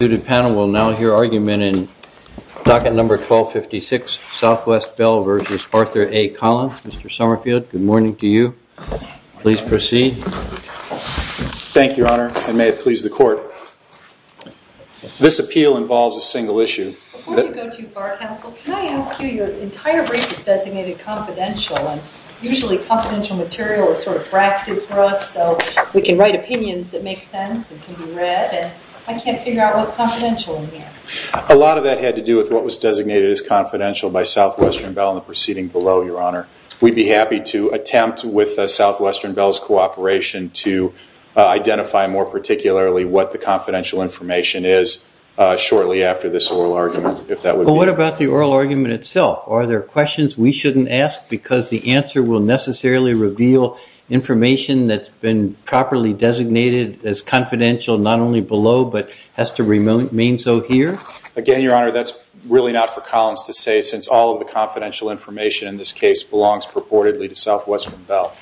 The panel will now hear argument in docket number 1256, Southwest Bell v. Arthur A Collins. Mr. Summerfield, good morning to you. Please proceed. Thank you, Your Honor, and may it please the Court. This appeal involves a single issue. Before you go to your Bar Council, can I ask you, your entire brief is designated confidential, and usually confidential material is sort of drafted for us so we can write opinions that make sense and can be read, but I can't figure out what's confidential in here. A lot of that had to do with what was designated as confidential by Southwestern Bell in the proceeding below, Your Honor. We'd be happy to attempt, with Southwestern Bell's cooperation, to identify more particularly what the confidential information is shortly after this oral argument. What about the oral argument itself? Are there questions we shouldn't ask because the answer will necessarily reveal information that's been properly designated as confidential not only below but has to remain so here? Again, Your Honor, that's really not for Collins to say since all of the confidential information in this case belongs purportedly to Southwestern Bell.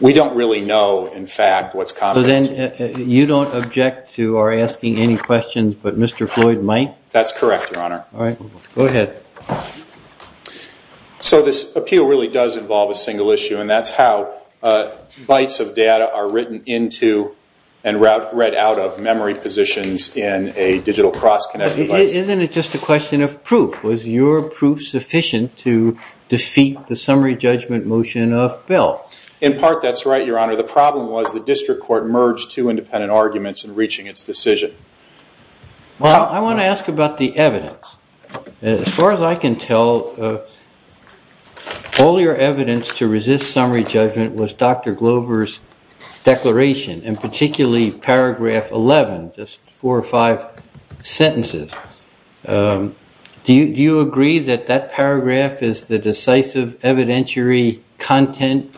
We don't really know, in fact, what's confidential. So then you don't object to our asking any questions, but Mr. Floyd might? That's correct, Your Honor. All right. Go ahead. So this appeal really does involve a single issue, and that's how bytes of data are written into and read out of memory positions in a digital cross-connect device. Isn't it just a question of proof? Was your proof sufficient to defeat the summary judgment motion of Bell? In part, that's right, Your Honor. The problem was the district court merged two independent arguments in reaching its decision. Well, I want to ask about the evidence. As far as I can tell, all your evidence to resist summary judgment was Dr. Glover's declaration, and particularly paragraph 11, just four or five sentences. Do you agree that that paragraph is the decisive evidentiary content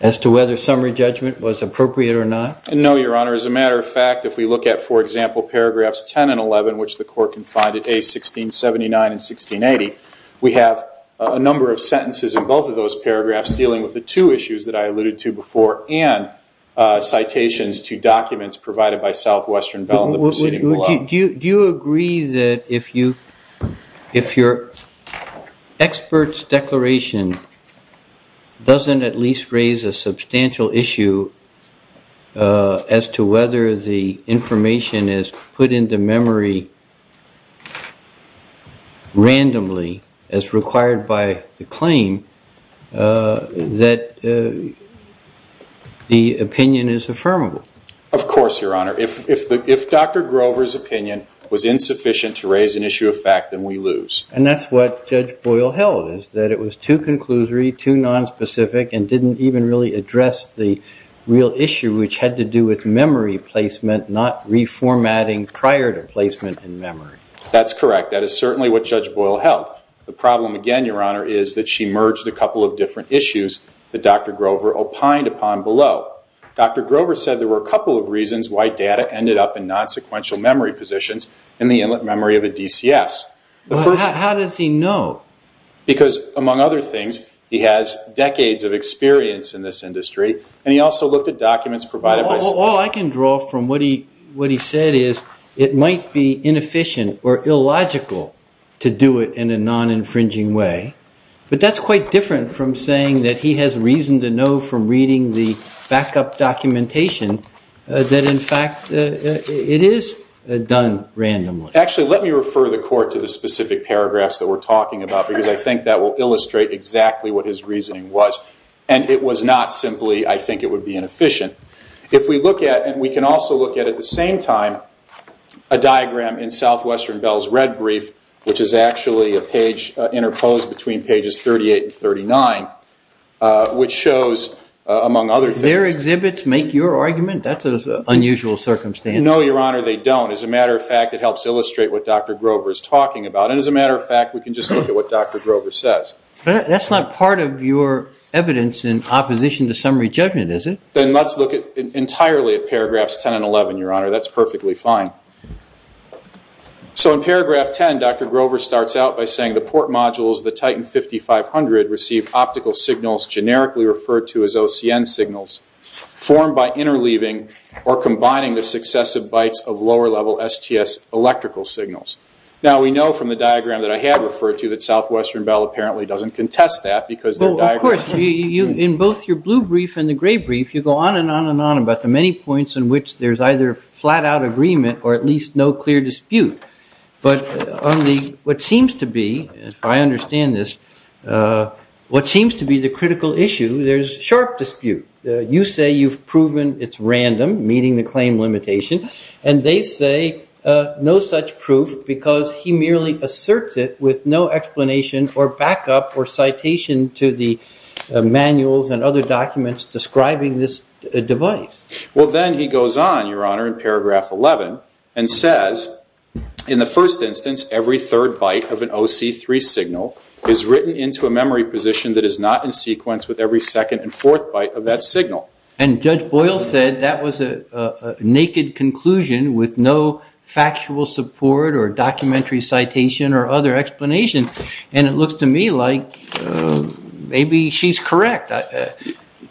as to whether summary judgment was appropriate or not? No, Your Honor. As a matter of fact, if we look at, for example, paragraphs 10 and 11, which the court can find at A1679 and 1680, we have a number of sentences in both of those paragraphs dealing with the two issues that I alluded to before and citations to documents provided by Southwestern Bell in the proceeding below. Do you agree that if your expert's declaration doesn't at least raise a substantial issue as to whether the information is put into memory randomly as required by the claim, that the opinion is affirmable? Of course, Your Honor. If Dr. Glover's opinion was insufficient to raise an issue of fact, then we lose. And that's what Judge Boyle held, is that it was too conclusory, too nonspecific, and didn't even really address the real issue, which had to do with memory placement, not reformatting prior to placement in memory. That's correct. That is certainly what Judge Boyle held. The problem, again, Your Honor, is that she merged a couple of different issues that Dr. Glover opined upon below. Dr. Glover said there were a couple of reasons why data ended up in nonsequential memory positions in the inlet memory of a DCS. How does he know? Because, among other things, he has decades of experience in this industry, and he also looked at documents provided by... All I can draw from what he said is it might be inefficient or illogical to do it in a non-infringing way, but that's quite different from saying that he has reason to know from reading the backup documentation that, in fact, it is done randomly. Actually, let me refer the Court to the specific paragraphs that we're talking about, because I think that will illustrate exactly what his reasoning was. And it was not simply, I think it would be inefficient. If we look at, and we can also look at at the same time, a diagram in Southwestern Bell's red brief, which is actually a page interposed between pages 38 and 39, which shows, among other things... Do their exhibits make your argument? That's an unusual circumstance. No, Your Honor, they don't. As a matter of fact, it helps illustrate what Dr. Glover is talking about. And as a matter of fact, we can just look at what Dr. Glover says. But that's not part of your evidence in opposition to summary judgment, is it? Then let's look entirely at paragraphs 10 and 11, Your Honor. That's perfectly fine. So in paragraph 10, Dr. Glover starts out by saying, the port modules, the Titan 5500, received optical signals, generically referred to as OCN signals, formed by interleaving or combining the successive bytes of lower-level STS electrical signals. Now, we know from the diagram that I had referred to that Southwestern Bell apparently doesn't contest that. Of course, in both your blue brief and the gray brief, you go on and on and on about the many points in which there's either flat-out agreement or at least no clear dispute. But what seems to be, if I understand this, what seems to be the critical issue, there's sharp dispute. You say you've proven it's random, meeting the claim limitation, and they say no such proof because he merely asserts it with no explanation or backup or citation to the manuals and other documents describing this device. Well, then he goes on, Your Honor, in paragraph 11 and says, in the first instance, every third byte of an OC3 signal is written into a memory position that is not in sequence with every second and fourth byte of that signal. And Judge Boyle said that was a naked conclusion with no factual support or documentary citation or other explanation. And it looks to me like maybe she's correct.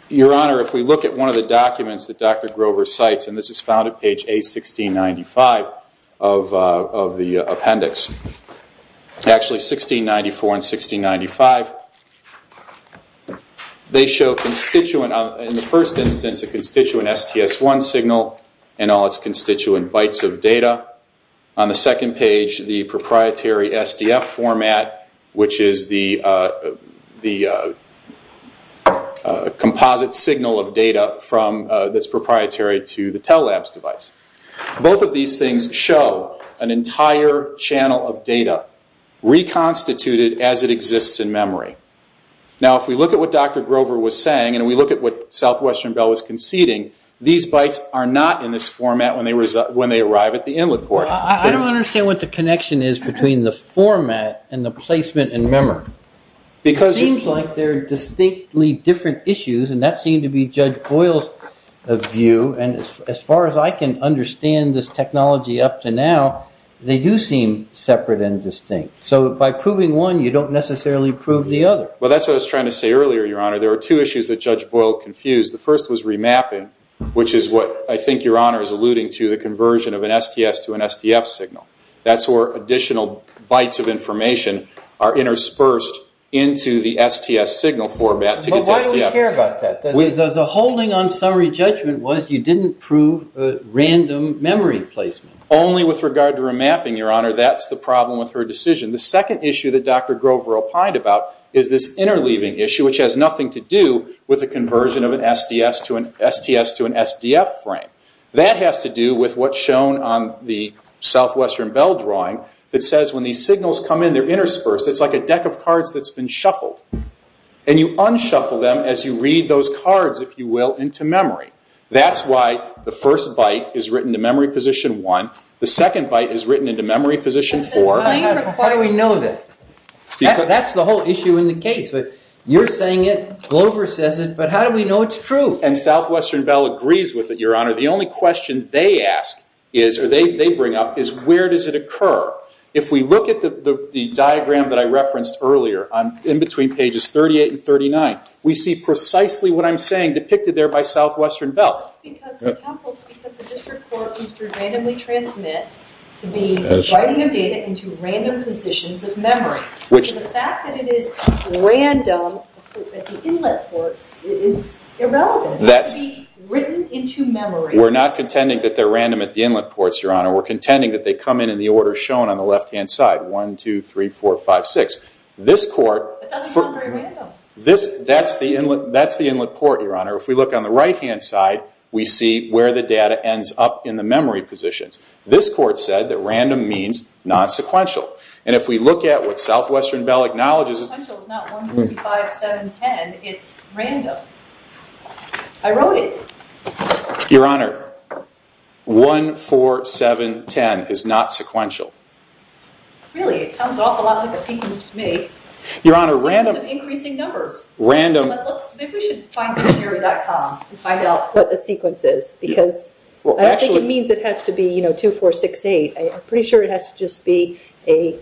Your Honor, if we look at one of the documents that Dr. Grover cites, and this is found at page A1695 of the appendix, actually 1694 and 1695, they show in the first instance a constituent STS-1 signal and all its constituent bytes of data. On the second page, the proprietary SDF format, which is the composite signal of data that's proprietary to the Tell Labs device. Both of these things show an entire channel of data reconstituted as it exists in memory. Now, if we look at what Dr. Grover was saying and we look at what Southwestern Bell was conceding, these bytes are not in this format when they arrive at the inlet port. Well, I don't understand what the connection is between the format and the placement in memory. It seems like they're distinctly different issues, and that seemed to be Judge Boyle's view. And as far as I can understand this technology up to now, they do seem separate and distinct. So by proving one, you don't necessarily prove the other. Well, that's what I was trying to say earlier, Your Honor. There were two issues that Judge Boyle confused. The first was remapping, which is what I think Your Honor is alluding to, the conversion of an STS to an SDF signal. That's where additional bytes of information are interspersed into the STS signal format to get to SDF. But why do we care about that? The holding on summary judgment was you didn't prove random memory placement. Only with regard to remapping, Your Honor. That's the problem with her decision. The second issue that Dr. Grover opined about is this interleaving issue, which has nothing to do with the conversion of an STS to an SDF frame. That has to do with what's shown on the southwestern bell drawing that says when these signals come in, they're interspersed. It's like a deck of cards that's been shuffled. And you unshuffle them as you read those cards, if you will, into memory. That's why the first byte is written to memory position one. The second byte is written into memory position four. How do we know that? That's the whole issue in the case. You're saying it. Grover says it. But how do we know it's true? And southwestern bell agrees with it, Your Honor. The only question they ask is, or they bring up, is where does it occur? If we look at the diagram that I referenced earlier in between pages 38 and 39, we see precisely what I'm saying depicted there by southwestern bell. It's because the district court used to randomly transmit to be writing of data into random positions of memory. So the fact that it is random at the inlet ports is irrelevant. It can be written into memory. We're not contending that they're random at the inlet ports, Your Honor. We're contending that they come in in the order shown on the left-hand side, 1, 2, 3, 4, 5, 6. This court— But that's not very random. That's the inlet port, Your Honor. If we look on the right-hand side, we see where the data ends up in the memory positions. This court said that random means non-sequential. And if we look at what southwestern bell acknowledges— Non-sequential is not 1, 2, 3, 5, 7, 10. It's random. I wrote it. Your Honor, 1, 4, 7, 10 is not sequential. Really? It sounds an awful lot like a sequence to me. Your Honor, random— It's a sequence of increasing numbers. Random— Maybe we should find the mirror.com and find out what the sequence is, because I don't think it means it has to be 2, 4, 6, 8. I'm pretty sure it has to just be an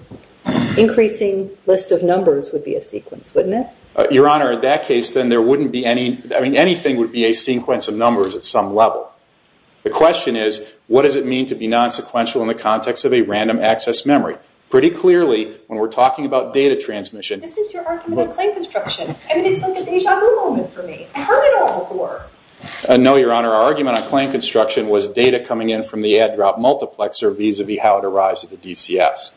increasing list of numbers would be a sequence, wouldn't it? Your Honor, in that case, then there wouldn't be any— I mean, anything would be a sequence of numbers at some level. The question is, what does it mean to be non-sequential in the context of a random access memory? Pretty clearly, when we're talking about data transmission— This is your argument on claim construction. It's like a deja vu moment for me. I've heard it all before. No, Your Honor. Our argument on claim construction was data coming in from the add-drop multiplexer vis-a-vis how it arrives at the DCS.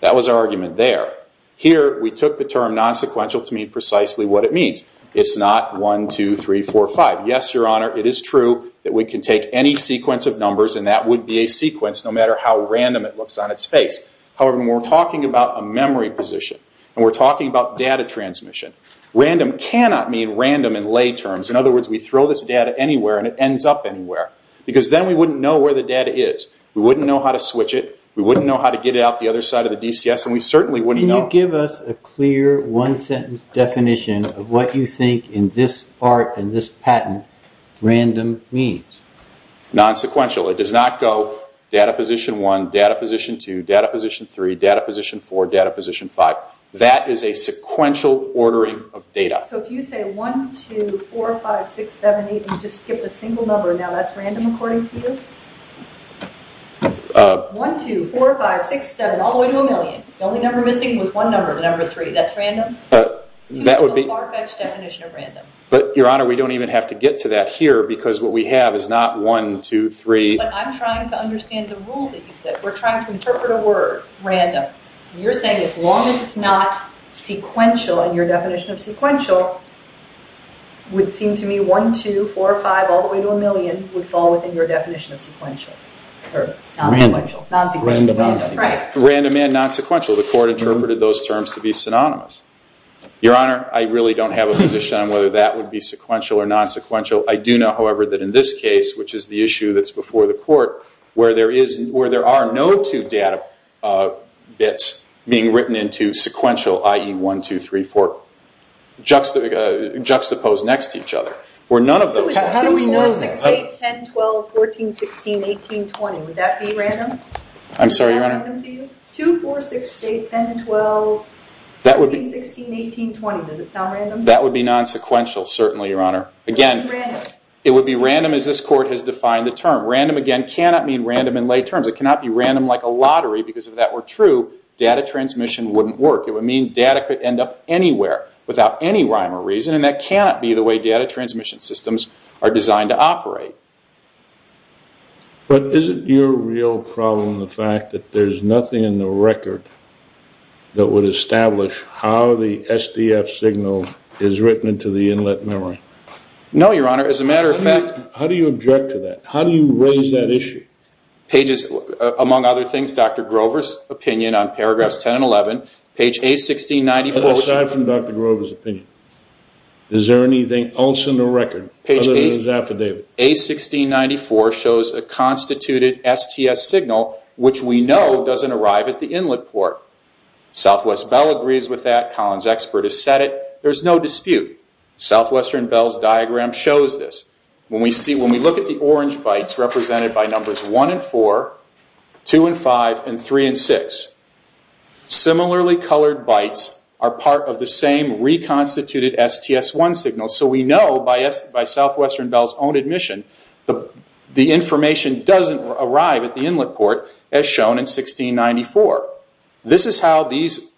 That was our argument there. Here, we took the term non-sequential to mean precisely what it means. It's not 1, 2, 3, 4, 5. Yes, Your Honor, it is true that we can take any sequence of numbers, and that would be a sequence no matter how random it looks on its face. However, when we're talking about a memory position, and we're talking about data transmission, random cannot mean random in lay terms. In other words, we throw this data anywhere and it ends up anywhere because then we wouldn't know where the data is. We wouldn't know how to switch it. We wouldn't know how to get it out the other side of the DCS, and we certainly wouldn't know. Can you give us a clear one-sentence definition of what you think, in this art and this patent, random means? Non-sequential. It does not go data position 1, data position 2, data position 3, data position 4, data position 5. That is a sequential ordering of data. So if you say 1, 2, 4, 5, 6, 7, 8, and you just skip a single number, now that's random according to you? 1, 2, 4, 5, 6, 7, all the way to a million. The only number missing was one number, the number 3. That's random? That would be a far-fetched definition of random. But, Your Honor, we don't even have to get to that here because what we have is not 1, 2, 3. But I'm trying to understand the rule that you said. We're trying to interpret a word, random. You're saying as long as it's not sequential, and your definition of sequential would seem to me 1, 2, 4, 5, all the way to a million would fall within your definition of sequential. Or non-sequential. Random and non-sequential. The Court interpreted those terms to be synonymous. Your Honor, I really don't have a position on whether that would be sequential or non-sequential. I do know, however, that in this case, which is the issue that's before the Court, where there are no two data bits being written into sequential, i.e., 1, 2, 3, 4, juxtaposed next to each other. How do we know 6, 8, 10, 12, 14, 16, 18, 20? Would that be random? Would that be random to you? 2, 4, 6, 8, 10, 12, 14, 16, 18, 20. Does it count random? That would be non-sequential, certainly, Your Honor. It would be random as this Court has defined the term. Random, again, cannot mean random in lay terms. It cannot be random like a lottery, because if that were true, data transmission wouldn't work. It would mean data could end up anywhere without any rhyme or reason, and that cannot be the way data transmission systems are designed to operate. But isn't your real problem the fact that there's nothing in the record that would establish how the SDF signal is written into the inlet memory? No, Your Honor. As a matter of fact... How do you object to that? How do you raise that issue? Among other things, Dr. Grover's opinion on paragraphs 10 and 11, page A1694... But aside from Dr. Grover's opinion, is there anything else in the record other than his affidavit? Page A1694 shows a constituted STS signal, which we know doesn't arrive at the inlet port. Southwest Bell agrees with that. Collins Expert has said it. There's no dispute. Southwestern Bell's diagram shows this. When we look at the orange bytes represented by numbers 1 and 4, 2 and 5, and 3 and 6, similarly colored bytes are part of the same reconstituted STS-1 signal. So we know, by Southwestern Bell's own admission, the information doesn't arrive at the inlet port, as shown in A1694. This is how these...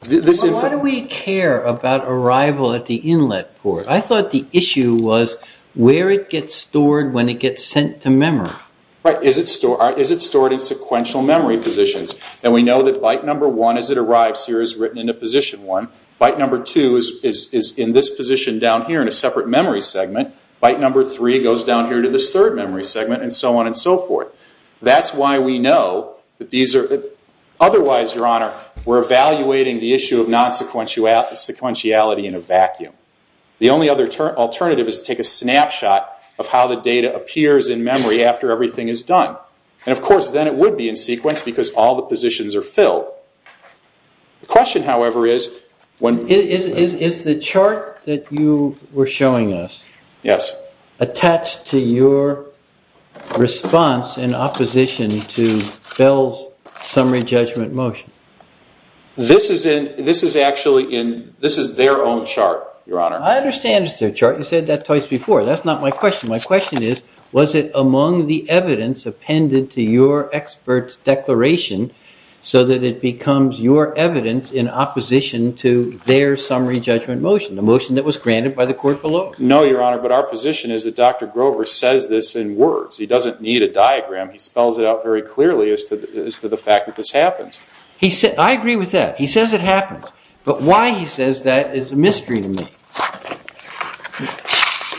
But why do we care about arrival at the inlet port? I thought the issue was where it gets stored when it gets sent to memory. Right. Is it stored in sequential memory positions? And we know that byte number 1, as it arrives here, is written into position 1. Byte number 2 is in this position down here in a separate memory segment. Byte number 3 goes down here to this third memory segment, and so on and so forth. That's why we know that these are... Otherwise, Your Honor, we're evaluating the issue of non-sequentiality in a vacuum. The only alternative is to take a snapshot of how the data appears in memory after everything is done. And, of course, then it would be in sequence because all the positions are filled. The question, however, is... Is the chart that you were showing us attached to your response in opposition to Bell's summary judgment motion? This is actually in... This is their own chart, Your Honor. I understand it's their chart. You said that twice before. That's not my question. My question is, was it among the evidence appended to your expert's declaration so that it becomes your evidence in opposition to their summary judgment motion, the motion that was granted by the court below? No, Your Honor, but our position is that Dr. Grover says this in words. He doesn't need a diagram. He spells it out very clearly as to the fact that this happens. I agree with that. He says it happens. But why he says that is a mystery to me.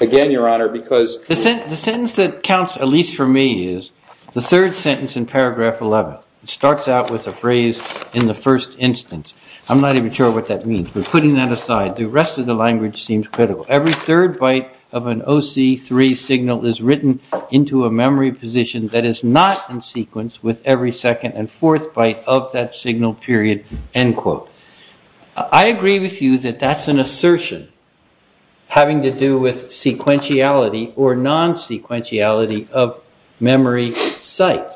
Again, Your Honor, because... The sentence that counts, at least for me, is the third sentence in paragraph 11. It starts out with a phrase, in the first instance. I'm not even sure what that means. We're putting that aside. The rest of the language seems critical. Every third byte of an OC3 signal is written into a memory position that is not in sequence with every second and fourth byte of that signal period. I agree with you that that's an assertion having to do with sequentiality or non-sequentiality of memory site.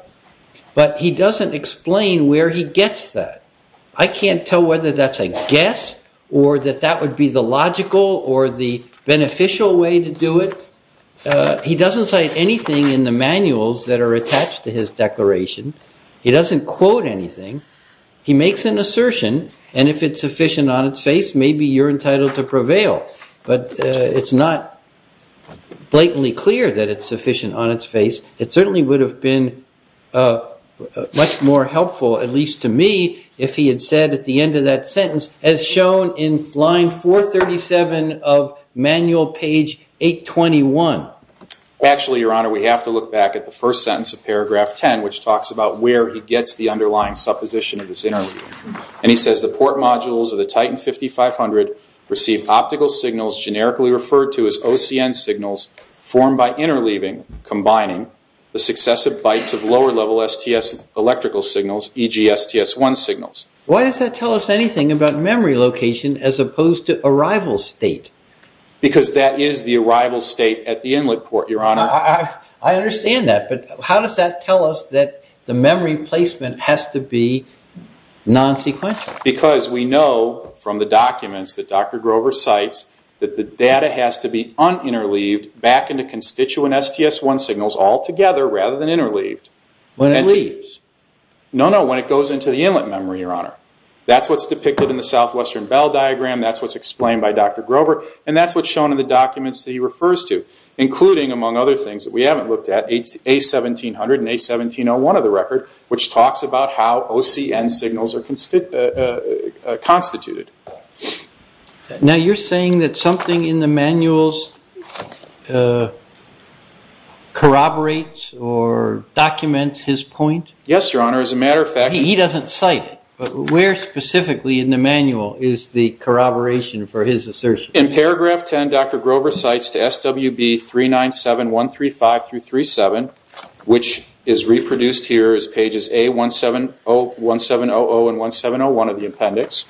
But he doesn't explain where he gets that. I can't tell whether that's a guess or that that would be the logical or the beneficial way to do it. He doesn't cite anything in the manuals that are attached to his declaration. He doesn't quote anything. He makes an assertion. And if it's sufficient on its face, maybe you're entitled to prevail. But it's not blatantly clear that it's sufficient on its face. It certainly would have been much more helpful, at least to me, if he had said at the end of that sentence, as shown in line 437 of manual page 821. Actually, Your Honor, we have to look back at the first sentence of paragraph 10, which talks about where he gets the underlying supposition of this interleaving. And he says, The port modules of the Titan 5500 receive optical signals generically referred to as OCN signals formed by interleaving, combining the successive bytes of lower-level STS electrical signals, e.g. STS-1 signals. Why does that tell us anything about memory location as opposed to arrival state? Because that is the arrival state at the inlet port, Your Honor. I understand that, but how does that tell us that the memory placement has to be non-sequential? Because we know from the documents that Dr. Grover cites that the data has to be un-interleaved back into constituent STS-1 signals all together rather than interleaved. When it leaves? No, no, when it goes into the inlet memory, Your Honor. That's what's depicted in the southwestern bell diagram. That's what's explained by Dr. Grover. And that's what's shown in the documents that he refers to, including, among other things that we haven't looked at, A1700 and A1701 of the record, which talks about how OCN signals are constituted. Now you're saying that something in the manuals corroborates or documents his point? Yes, Your Honor. As a matter of fact... He doesn't cite it, but where specifically in the manual is the corroboration for his assertion? In paragraph 10, Dr. Grover cites to SWB 397135-37, which is reproduced here as pages A1700 and 1701 of the appendix.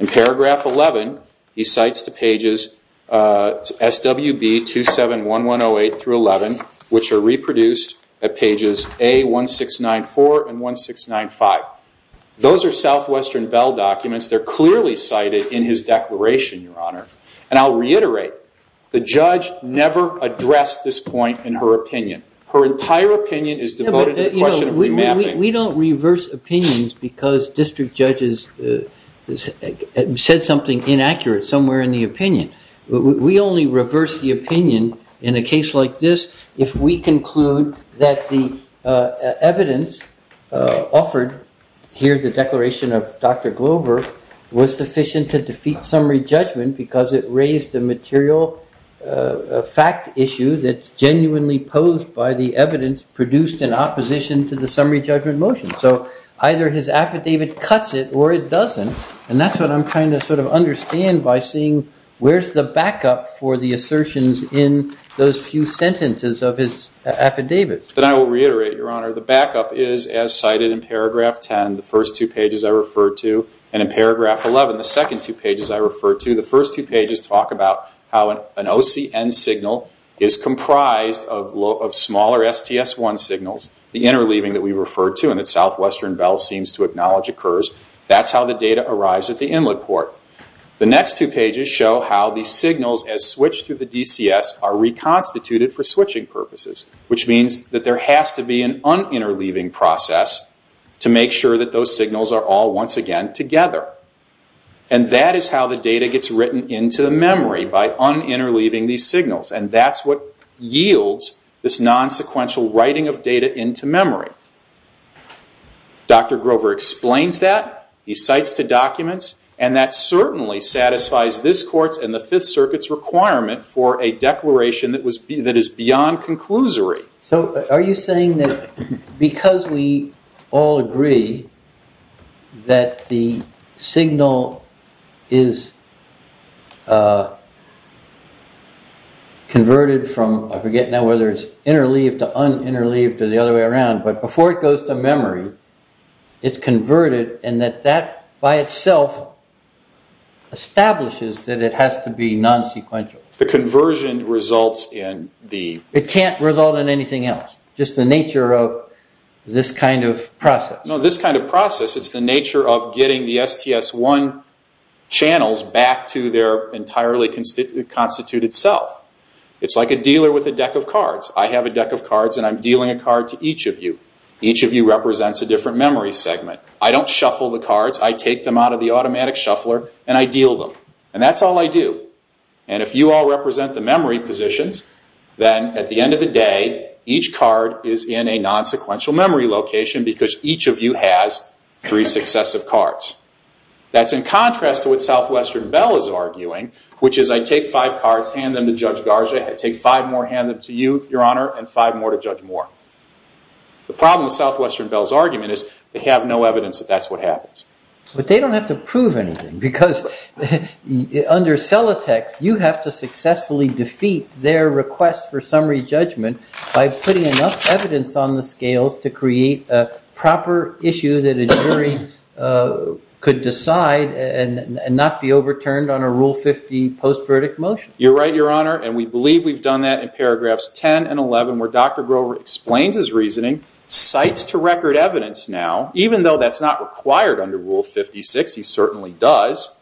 In paragraph 11, he cites to pages SWB 271108-11, which are reproduced at pages A1694 and 1695. They're clearly cited in his declaration, Your Honor. And I'll reiterate, the judge never addressed this point in her opinion. Her entire opinion is devoted to the question of remapping. We don't reverse opinions because district judges said something inaccurate somewhere in the opinion. We only reverse the opinion in a case like this if we conclude that the evidence offered here, the declaration of Dr. Grover, was sufficient to defeat summary judgment because it raised a material fact issue that's genuinely posed by the evidence produced in opposition to the summary judgment motion. So either his affidavit cuts it or it doesn't. And that's what I'm trying to sort of understand by seeing where's the backup for the assertions in those few sentences of his affidavit. Then I will reiterate, Your Honor, the backup is as cited in paragraph 10, the first two pages I referred to, and in paragraph 11, the second two pages I referred to, the first two pages talk about how an OCN signal is comprised of smaller STS-1 signals, the interleaving that we referred to and that Southwestern Bell seems to acknowledge occurs. That's how the data arrives at the inlet port. The next two pages show how the signals as switched to the DCS are reconstituted for switching purposes, which means that there has to be an un-interleaving process to make sure that those signals are all once again together. And that is how the data gets written into the memory, by un-interleaving these signals, and that's what yields this non-sequential writing of data into memory. Dr. Grover explains that, he cites the documents, and that certainly satisfies this Court's and the Fifth Circuit's requirement for a declaration that is beyond conclusory. So are you saying that because we all agree that the signal is converted from, I forget now whether it's interleaved to un-interleaved or the other way around, but before it goes to memory, it's converted and that that by itself establishes that it has to be non-sequential. The conversion results in the... It can't result in anything else, just the nature of this kind of process. No, this kind of process, it's the nature of getting the STS-1 channels back to their entirely constituted self. It's like a dealer with a deck of cards. I have a deck of cards and I'm dealing a card to each of you. Each of you represents a different memory segment. I don't shuffle the cards, I take them out of the automatic shuffler and I deal them. And that's all I do. And if you all represent the memory positions, then at the end of the day, each card is in a non-sequential memory location because each of you has three successive cards. That's in contrast to what Southwestern Bell is arguing, which is I take five cards, hand them to Judge Garza, I take five more, hand them to you, Your Honor, and five more to Judge Moore. The problem with Southwestern Bell's argument is they have no evidence that that's what happens. But they don't have to prove anything because under Celotex, you have to successfully defeat their request for summary judgment by putting enough evidence on the scales to create a proper issue that a jury could decide and not be overturned on a Rule 50 post-verdict motion. You're right, Your Honor, and we believe we've done that in paragraphs 10 and 11 where Dr. Grover explains his reasoning, cites to record evidence now, even though that's not required under Rule 56, he certainly does,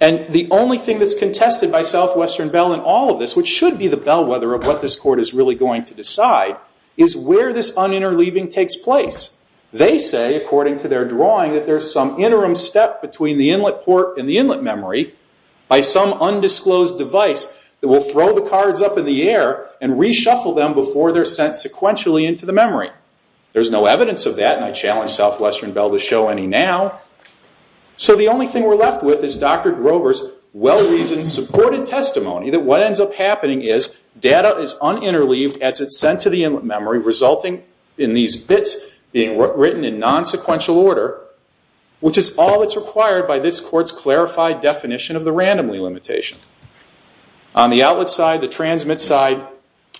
and the only thing Southwestern Bell in all of this, which should be the bellwether of what this court is really going to decide, is where this un-interleaving takes place. They say, according to their drawing, that there's some interim step between the inlet port and the inlet memory by some undisclosed device that will throw the cards up in the air and reshuffle them before they're sent sequentially into the memory. There's no evidence of that, and I challenge Southwestern Bell to show any now. So the only thing we're left with is Dr. Grover's well-reasoned, supported testimony that what ends up happening is data is un-interleaved as it's sent to the inlet memory, resulting in these bits being written in non-sequential order, which is all that's required by this court's clarified definition of the randomly limitation. On the outlet side, the transmit side,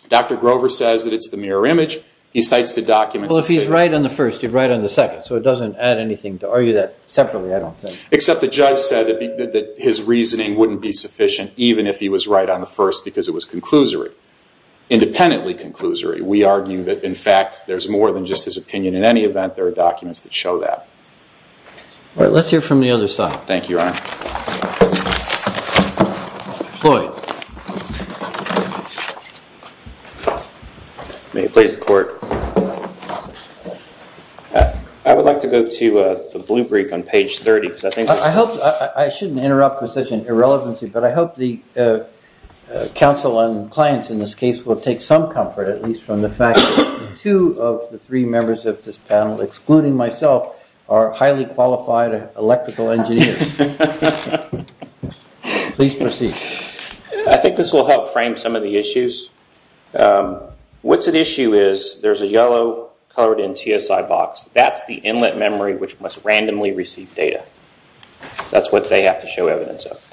Dr. Grover says that it's the mirror image. He cites the documents that say that. Well, if he's right on the first, you're right on the second, so it doesn't add anything to argue that separately, I don't think. Except the judge said that his reasoning wouldn't be sufficient even if he was right on the first because it was conclusory. Independently conclusory. We argue that, in fact, there's more than just his opinion. In any event, there are documents that show that. All right, let's hear from the other side. Thank you, Your Honor. Floyd. May it please the court. I would like to go to the blue brief on page 30. I hope, I shouldn't interrupt with such an irrelevancy, but I hope the panel and clients in this case will take some comfort at least from the fact that two of the three members of this panel, excluding myself, are highly qualified electrical engineers. Please proceed. I think this will help frame some of the issues. What's at issue is there's a yellow colored in TSI box. That's the inlet memory which must randomly receive data. That's what they have to show evidence of.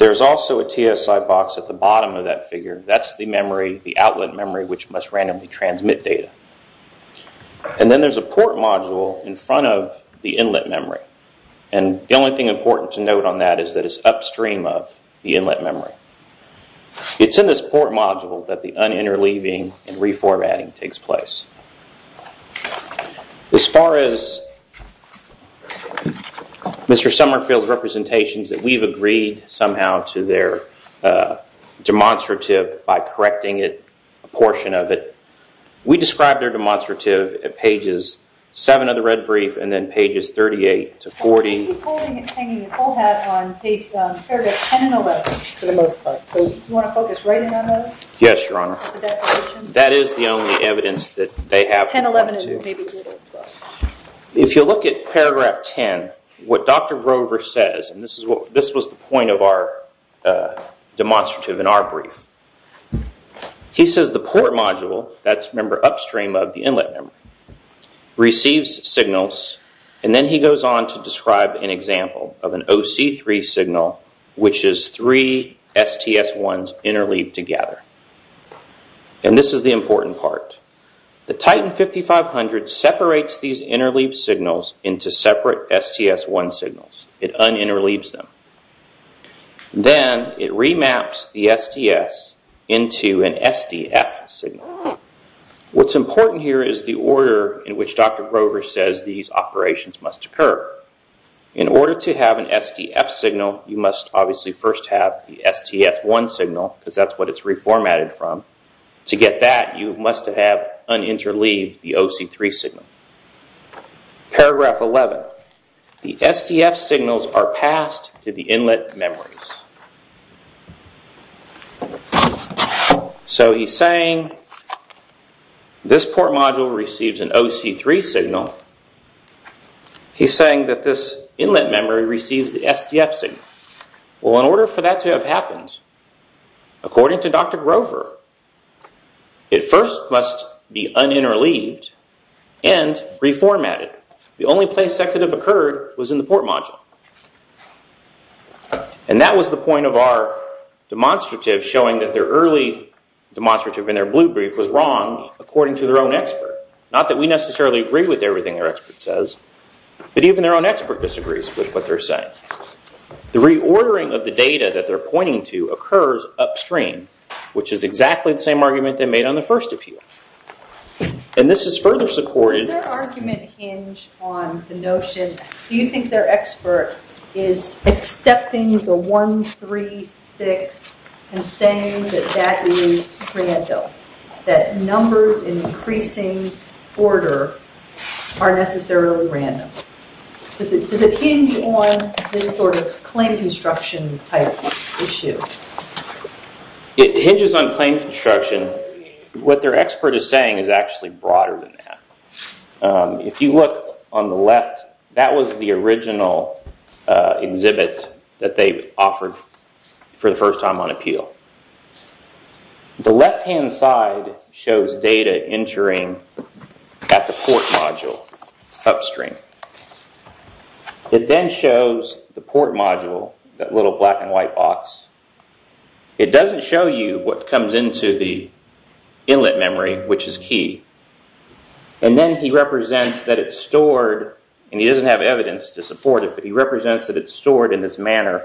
There's also a TSI box at the bottom of that figure. That's the memory, the outlet memory, which must randomly transmit data. Then there's a port module in front of the inlet memory. The only thing important to note on that is that it's upstream of the inlet memory. It's in this port module that the un-interleaving and reformatting takes place. As far as Mr. Summerfield's representations that we've agreed somehow to their demonstrative by correcting it, a portion of it, we described their demonstrative at pages 7 of the red brief and then pages 38 to 40. He's holding and hanging his whole hat on page, paragraph 10 and 11 for the most part. Do you want to focus right in on those? Yes, Your Honor. That is the only evidence that they have. If you look at paragraph 10, what Dr. Rover says, and this was the point of our demonstrative in our brief, he says the port module, that's upstream of the inlet memory, receives signals and then he goes on to describe an example of an OC3 signal which is three STS1's interleaved together. This is the important part. The Titan 5500 separates these interleaved signals into separate STS1 signals. It un-interleaves them. Then, it remaps the STS into an SDF signal. What's important here is the order in which Dr. Rover says these operations must occur. In order to have an SDF signal, you must obviously first have the STS1 signal because that's what it's reformatted from. To get that, you must have un-interleaved the OC3 signal. Paragraph 11, the STF signals are passed to the inlet memories. So, he's saying this port module receives an OC3 signal. He's saying that this inlet memory receives the SDF signal. Well, in order for that to have happened, according to Dr. Rover, it first must be un-interleaved and reformatted. The only place that could have happened was the port module. And that was the point of our demonstrative showing that their early demonstrative in their blue brief was wrong according to their own expert. Not that we necessarily agree with everything their expert says, but even their own expert disagrees with what they're saying. The reordering of the data that they're pointing to occurs upstream, which is exactly the same argument they made on the first appeal. And this is further supported... Does their argument hinge on the notion, do you think their expert is accepting the 136 and saying that that is random? That numbers in increasing order are necessarily random? Does it hinge on this sort of claim construction type issue? It hinges on claim construction. What their expert is saying is actually broader than that. If you look on the left, that was the original exhibit that they offered for the first time on appeal. The left-hand side shows data entering at the port module upstream. It then shows the port module, that little black and white box. It doesn't show you what comes into the inlet memory, which is key. And then he represents that it's stored, and he doesn't have evidence to support it, but he represents that it's stored in this manner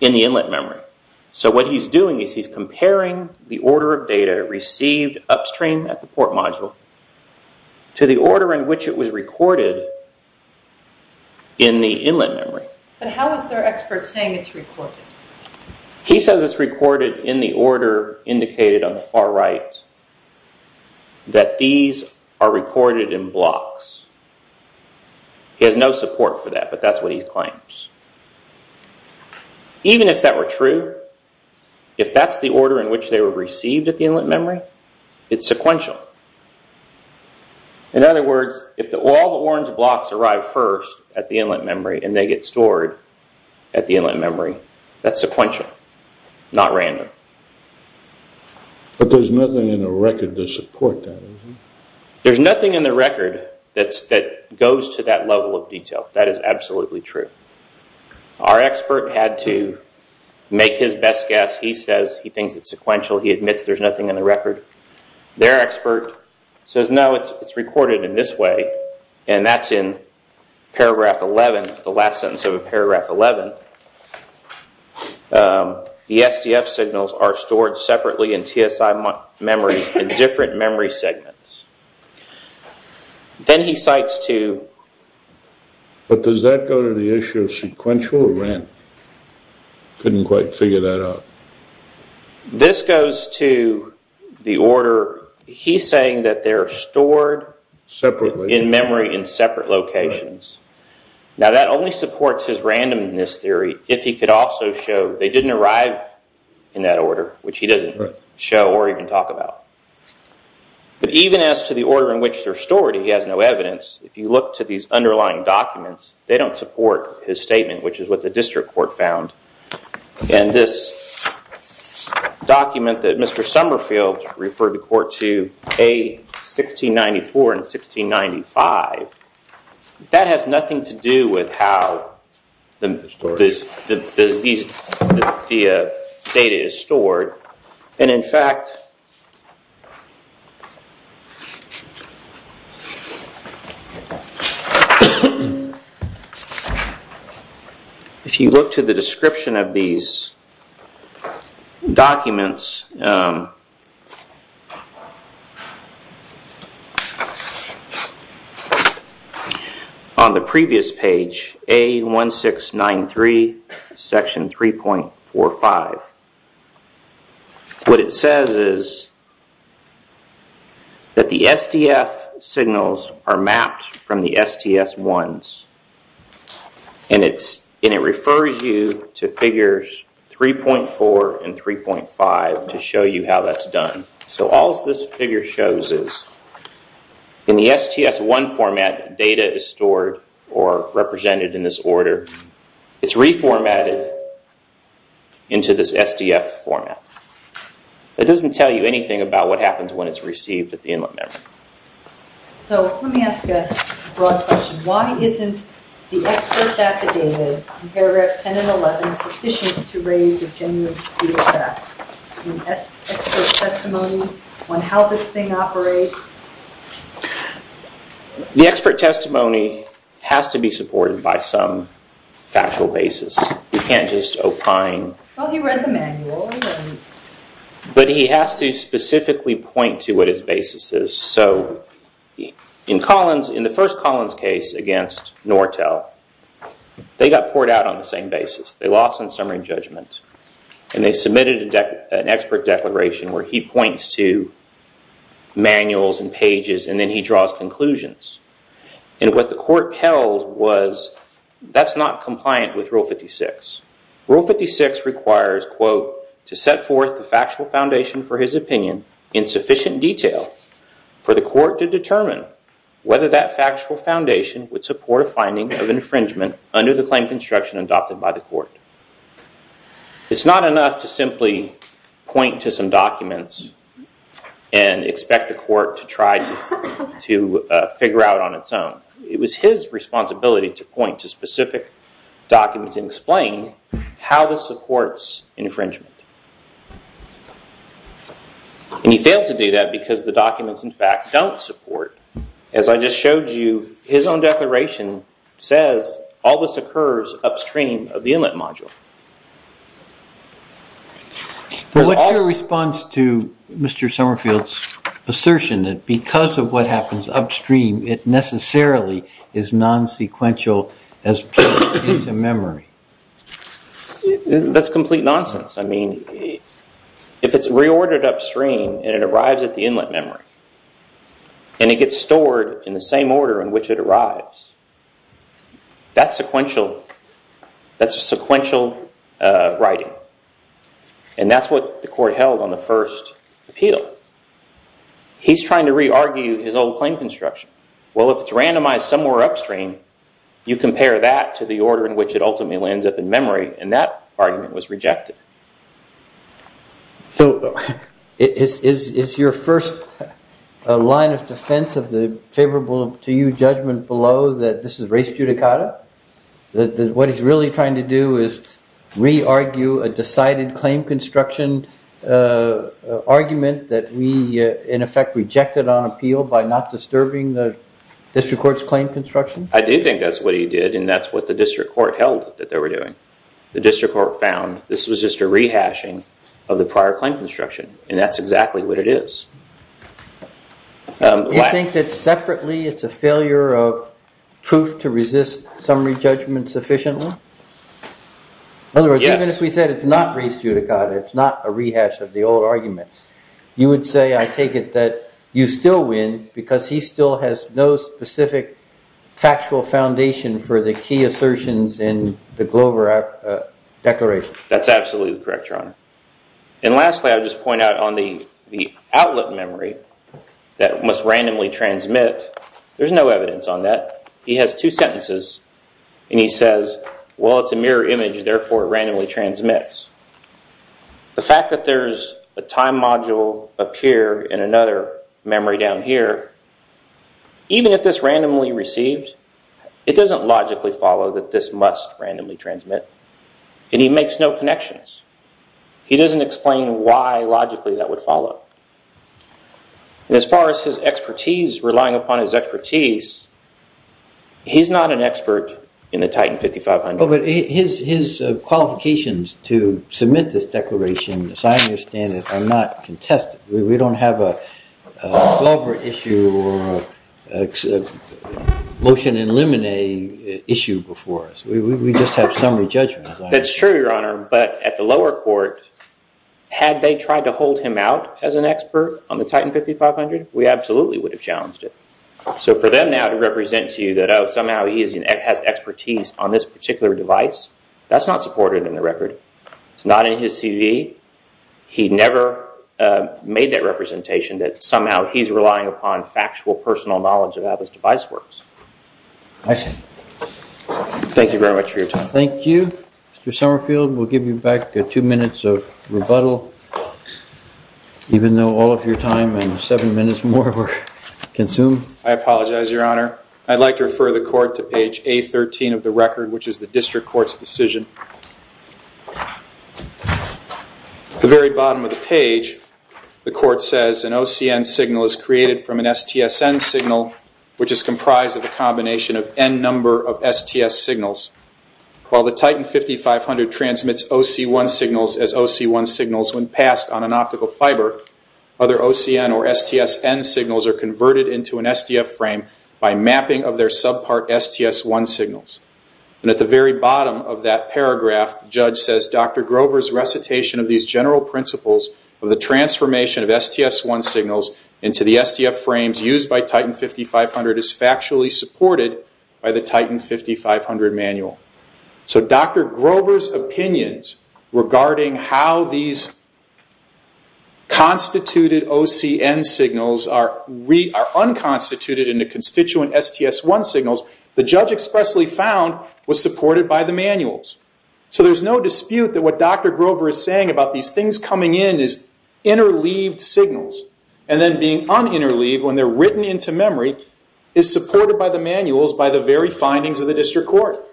in the inlet memory. So what he's doing is he's comparing the order of data received upstream at the port module to the order in which it was recorded in the inlet memory. But how is their expert saying it's recorded? He says it's recorded in the order indicated on the far right that these are recorded in blocks. He has no support for that, but that's what he claims. Even if that were true, if that's the order in which they were received at the inlet memory, it's sequential. In other words, if all the orange blocks arrive first at the inlet memory and they get stored at the inlet memory, that's sequential, not random. But there's nothing in the record to support that. There's nothing in the record that goes to that level of memory. He admits there's nothing in the record. Their expert says no, it's recorded in this way, and that's in paragraph 11, the last sentence of paragraph 11. The SDF signals are stored separately in TSI memories in different memory segments. Then he cites two. But does that go to the issue of sequential or random? Couldn't quite figure that out. This goes to the order he's saying that they're stored in memory in separate locations. Now, that only supports his randomness theory if he could also show they didn't arrive in that order, which he doesn't show or even talk about. But even as to the order in which they're stored, that's what the district court found, and this document that Mr. Summerfield referred the court to, A, 1694 and 1695, that has nothing to do with how the data is stored, and, in fact, if you look to the description of these documents, on the previous page, says is that the records are in the same location, and that the records are in the same location, and that says that the SDF signals are mapped from the STS1s, and it refers you to figures 3.4 and 3.5 to show you how that's done. So all this figure shows is in the STS1 format, data is stored or represented in this order, it's not necessary to tell you anything about what happens when it's received. So let me ask a broad question. Why isn't the experts affidavit in paragraphs 10 and 11 sufficient to raise a genuine speed of fact? The expert testimony has to be supported by some factual basis. You can't just opine. But he has to specifically point to what his basis is. So in the first Collins case against Nortel, they got poured out on the same basis. They lost in summary and they submitted an expert declaration where he points to manuals and pages and then he draws conclusions. And what the court held was that's not compliant with rule 56. Rule 56 requires, quote, to set forth the factual foundation for his opinion in sufficient detail for the court to determine whether that factual foundation would a finding of infringement under the claim construction adopted by the court. It's not enough to simply point to some documents and expect the court to try to figure out on its own. It was his responsibility to point to specific documents and explain how infringement. And he failed to do that because the documents, in fact, don't support. As I just showed you, his own declaration says all this occurs upstream of the inlet module. What's your response to Mr. Summerfield's assertion that because of what happens upstream, it necessarily is nonsequential as put into memory? That's complete nonsense. If it's reordered upstream and arrives at the inlet memory and gets stored in the same order in which it arrives, that's sequential writing. And that's what the court held on the first appeal. He's trying to reargue his old claim construction. Well, if it's randomized somewhere upstream, you compare that to the order in which it ultimately ends up in memory and that argument was rejected. So is your first line of defense of the favorable to you judgment below that this is race judicata? What he's really trying to do is reargue a decided claim construction argument that we, in effect, rejected on appeal by not disturbing the district court's claim construction? I do think that's what he did and that's what the district court held. The district court found this was just a rehashing of the prior claim construction and that's did. In other words, even if we said it's not race judicata, it's not a rehash of the old argument, you would say I take it that you still win because he still has no specific factual foundation for the key assertions in the Glover declaration. That's absolutely correct, Your Honor. And lastly, I would just point out on the outlet memory that must randomly transmit, there's no evidence on that. He has two sentences and he says, well, it's a mirror image, therefore it randomly transmits. The fact that there's a time module up here in another memory down here, even if this randomly received, it doesn't logically follow that this must randomly transmit. And he makes no connections. He doesn't explain why logically that would follow. And as far as his expertise, relying upon his expertise, he's not an expert in the Titan 5500. But his qualifications to submit this declaration as I believe is not contested. We don't have a motion in limine issue before us. We just have summary judgments. At the lower court, had they tried to hold him out as an expert on the Titan 5500, we absolutely would have challenged it. So for them now to represent to you that somehow he has expertise on this particular device, that's not supported in the record. It's not in his CV. He never made that representation that somehow he's relying upon factual knowledge of how this device works. Thank you very much for your time. Thank you. Mr. Summerfield, we'll give you back two minutes of rebuttal, even though all of your time and seven minutes more were consumed. I apologize, Your Honor. I'd like to refer the court to page A13 of the record, which is the district court's decision. At the very bottom of the page, the court says an OCN number of STS signals. While the Titan 5500 transmits OC1 signals as OC1 signals when passed on an optical fiber, other OCN or STSN signals are converted into an STF frame by mapping of their subpart STS1 signals. And at the very bottom of that paragraph, the judge says Dr. Grover's recitation of these general principles of the transformation of STS1 signals into the STF frames used by Titan 5500 is factually supported by the Titan 5500 manual. So Dr. Grover's opinions regarding how these constituted OCN signals are unconstituted in the constituent STS1 signals, the judge expressly found was supported by the manuals. So there's no dispute that what Dr. Grover is saying about these things coming in is interleaved signals. And then being uninterleaved when they're written into memory is supported by the manuals by the very findings of the district court.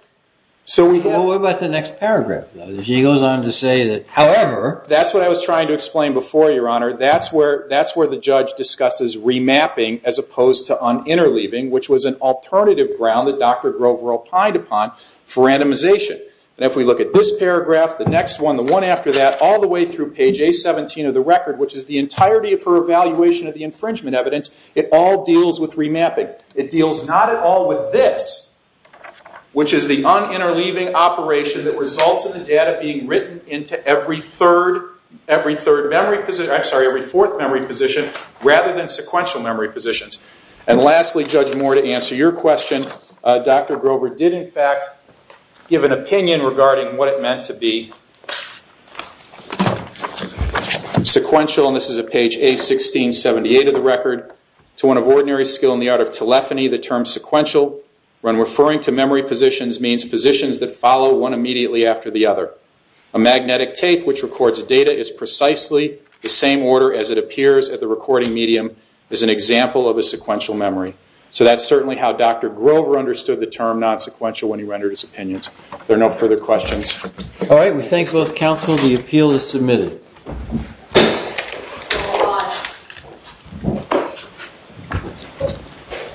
So we go... What about the next paragraph? She goes on to say that however... That's what I was trying to explain before, Your Honor. That's where the judge discusses remapping as opposed to uninterleaving, which was an alternative ground that Dr. Grover opined upon for randomization. And if we look at this paragraph, the next one, the one after that, all the way through page 17 of the record, which is the entirety of her evaluation of the infringement evidence, it all deals with remapping. It deals not at all with this, which is the uninterleaving operation that results in the data being written into every fourth memory position rather than into every fifth memory position. So that's what Dr. Grover understood the term not sequential when he rendered his opinions. There are no further questions. All right. We thank both counsel. The appeal is submitted. The hearing is adjourned.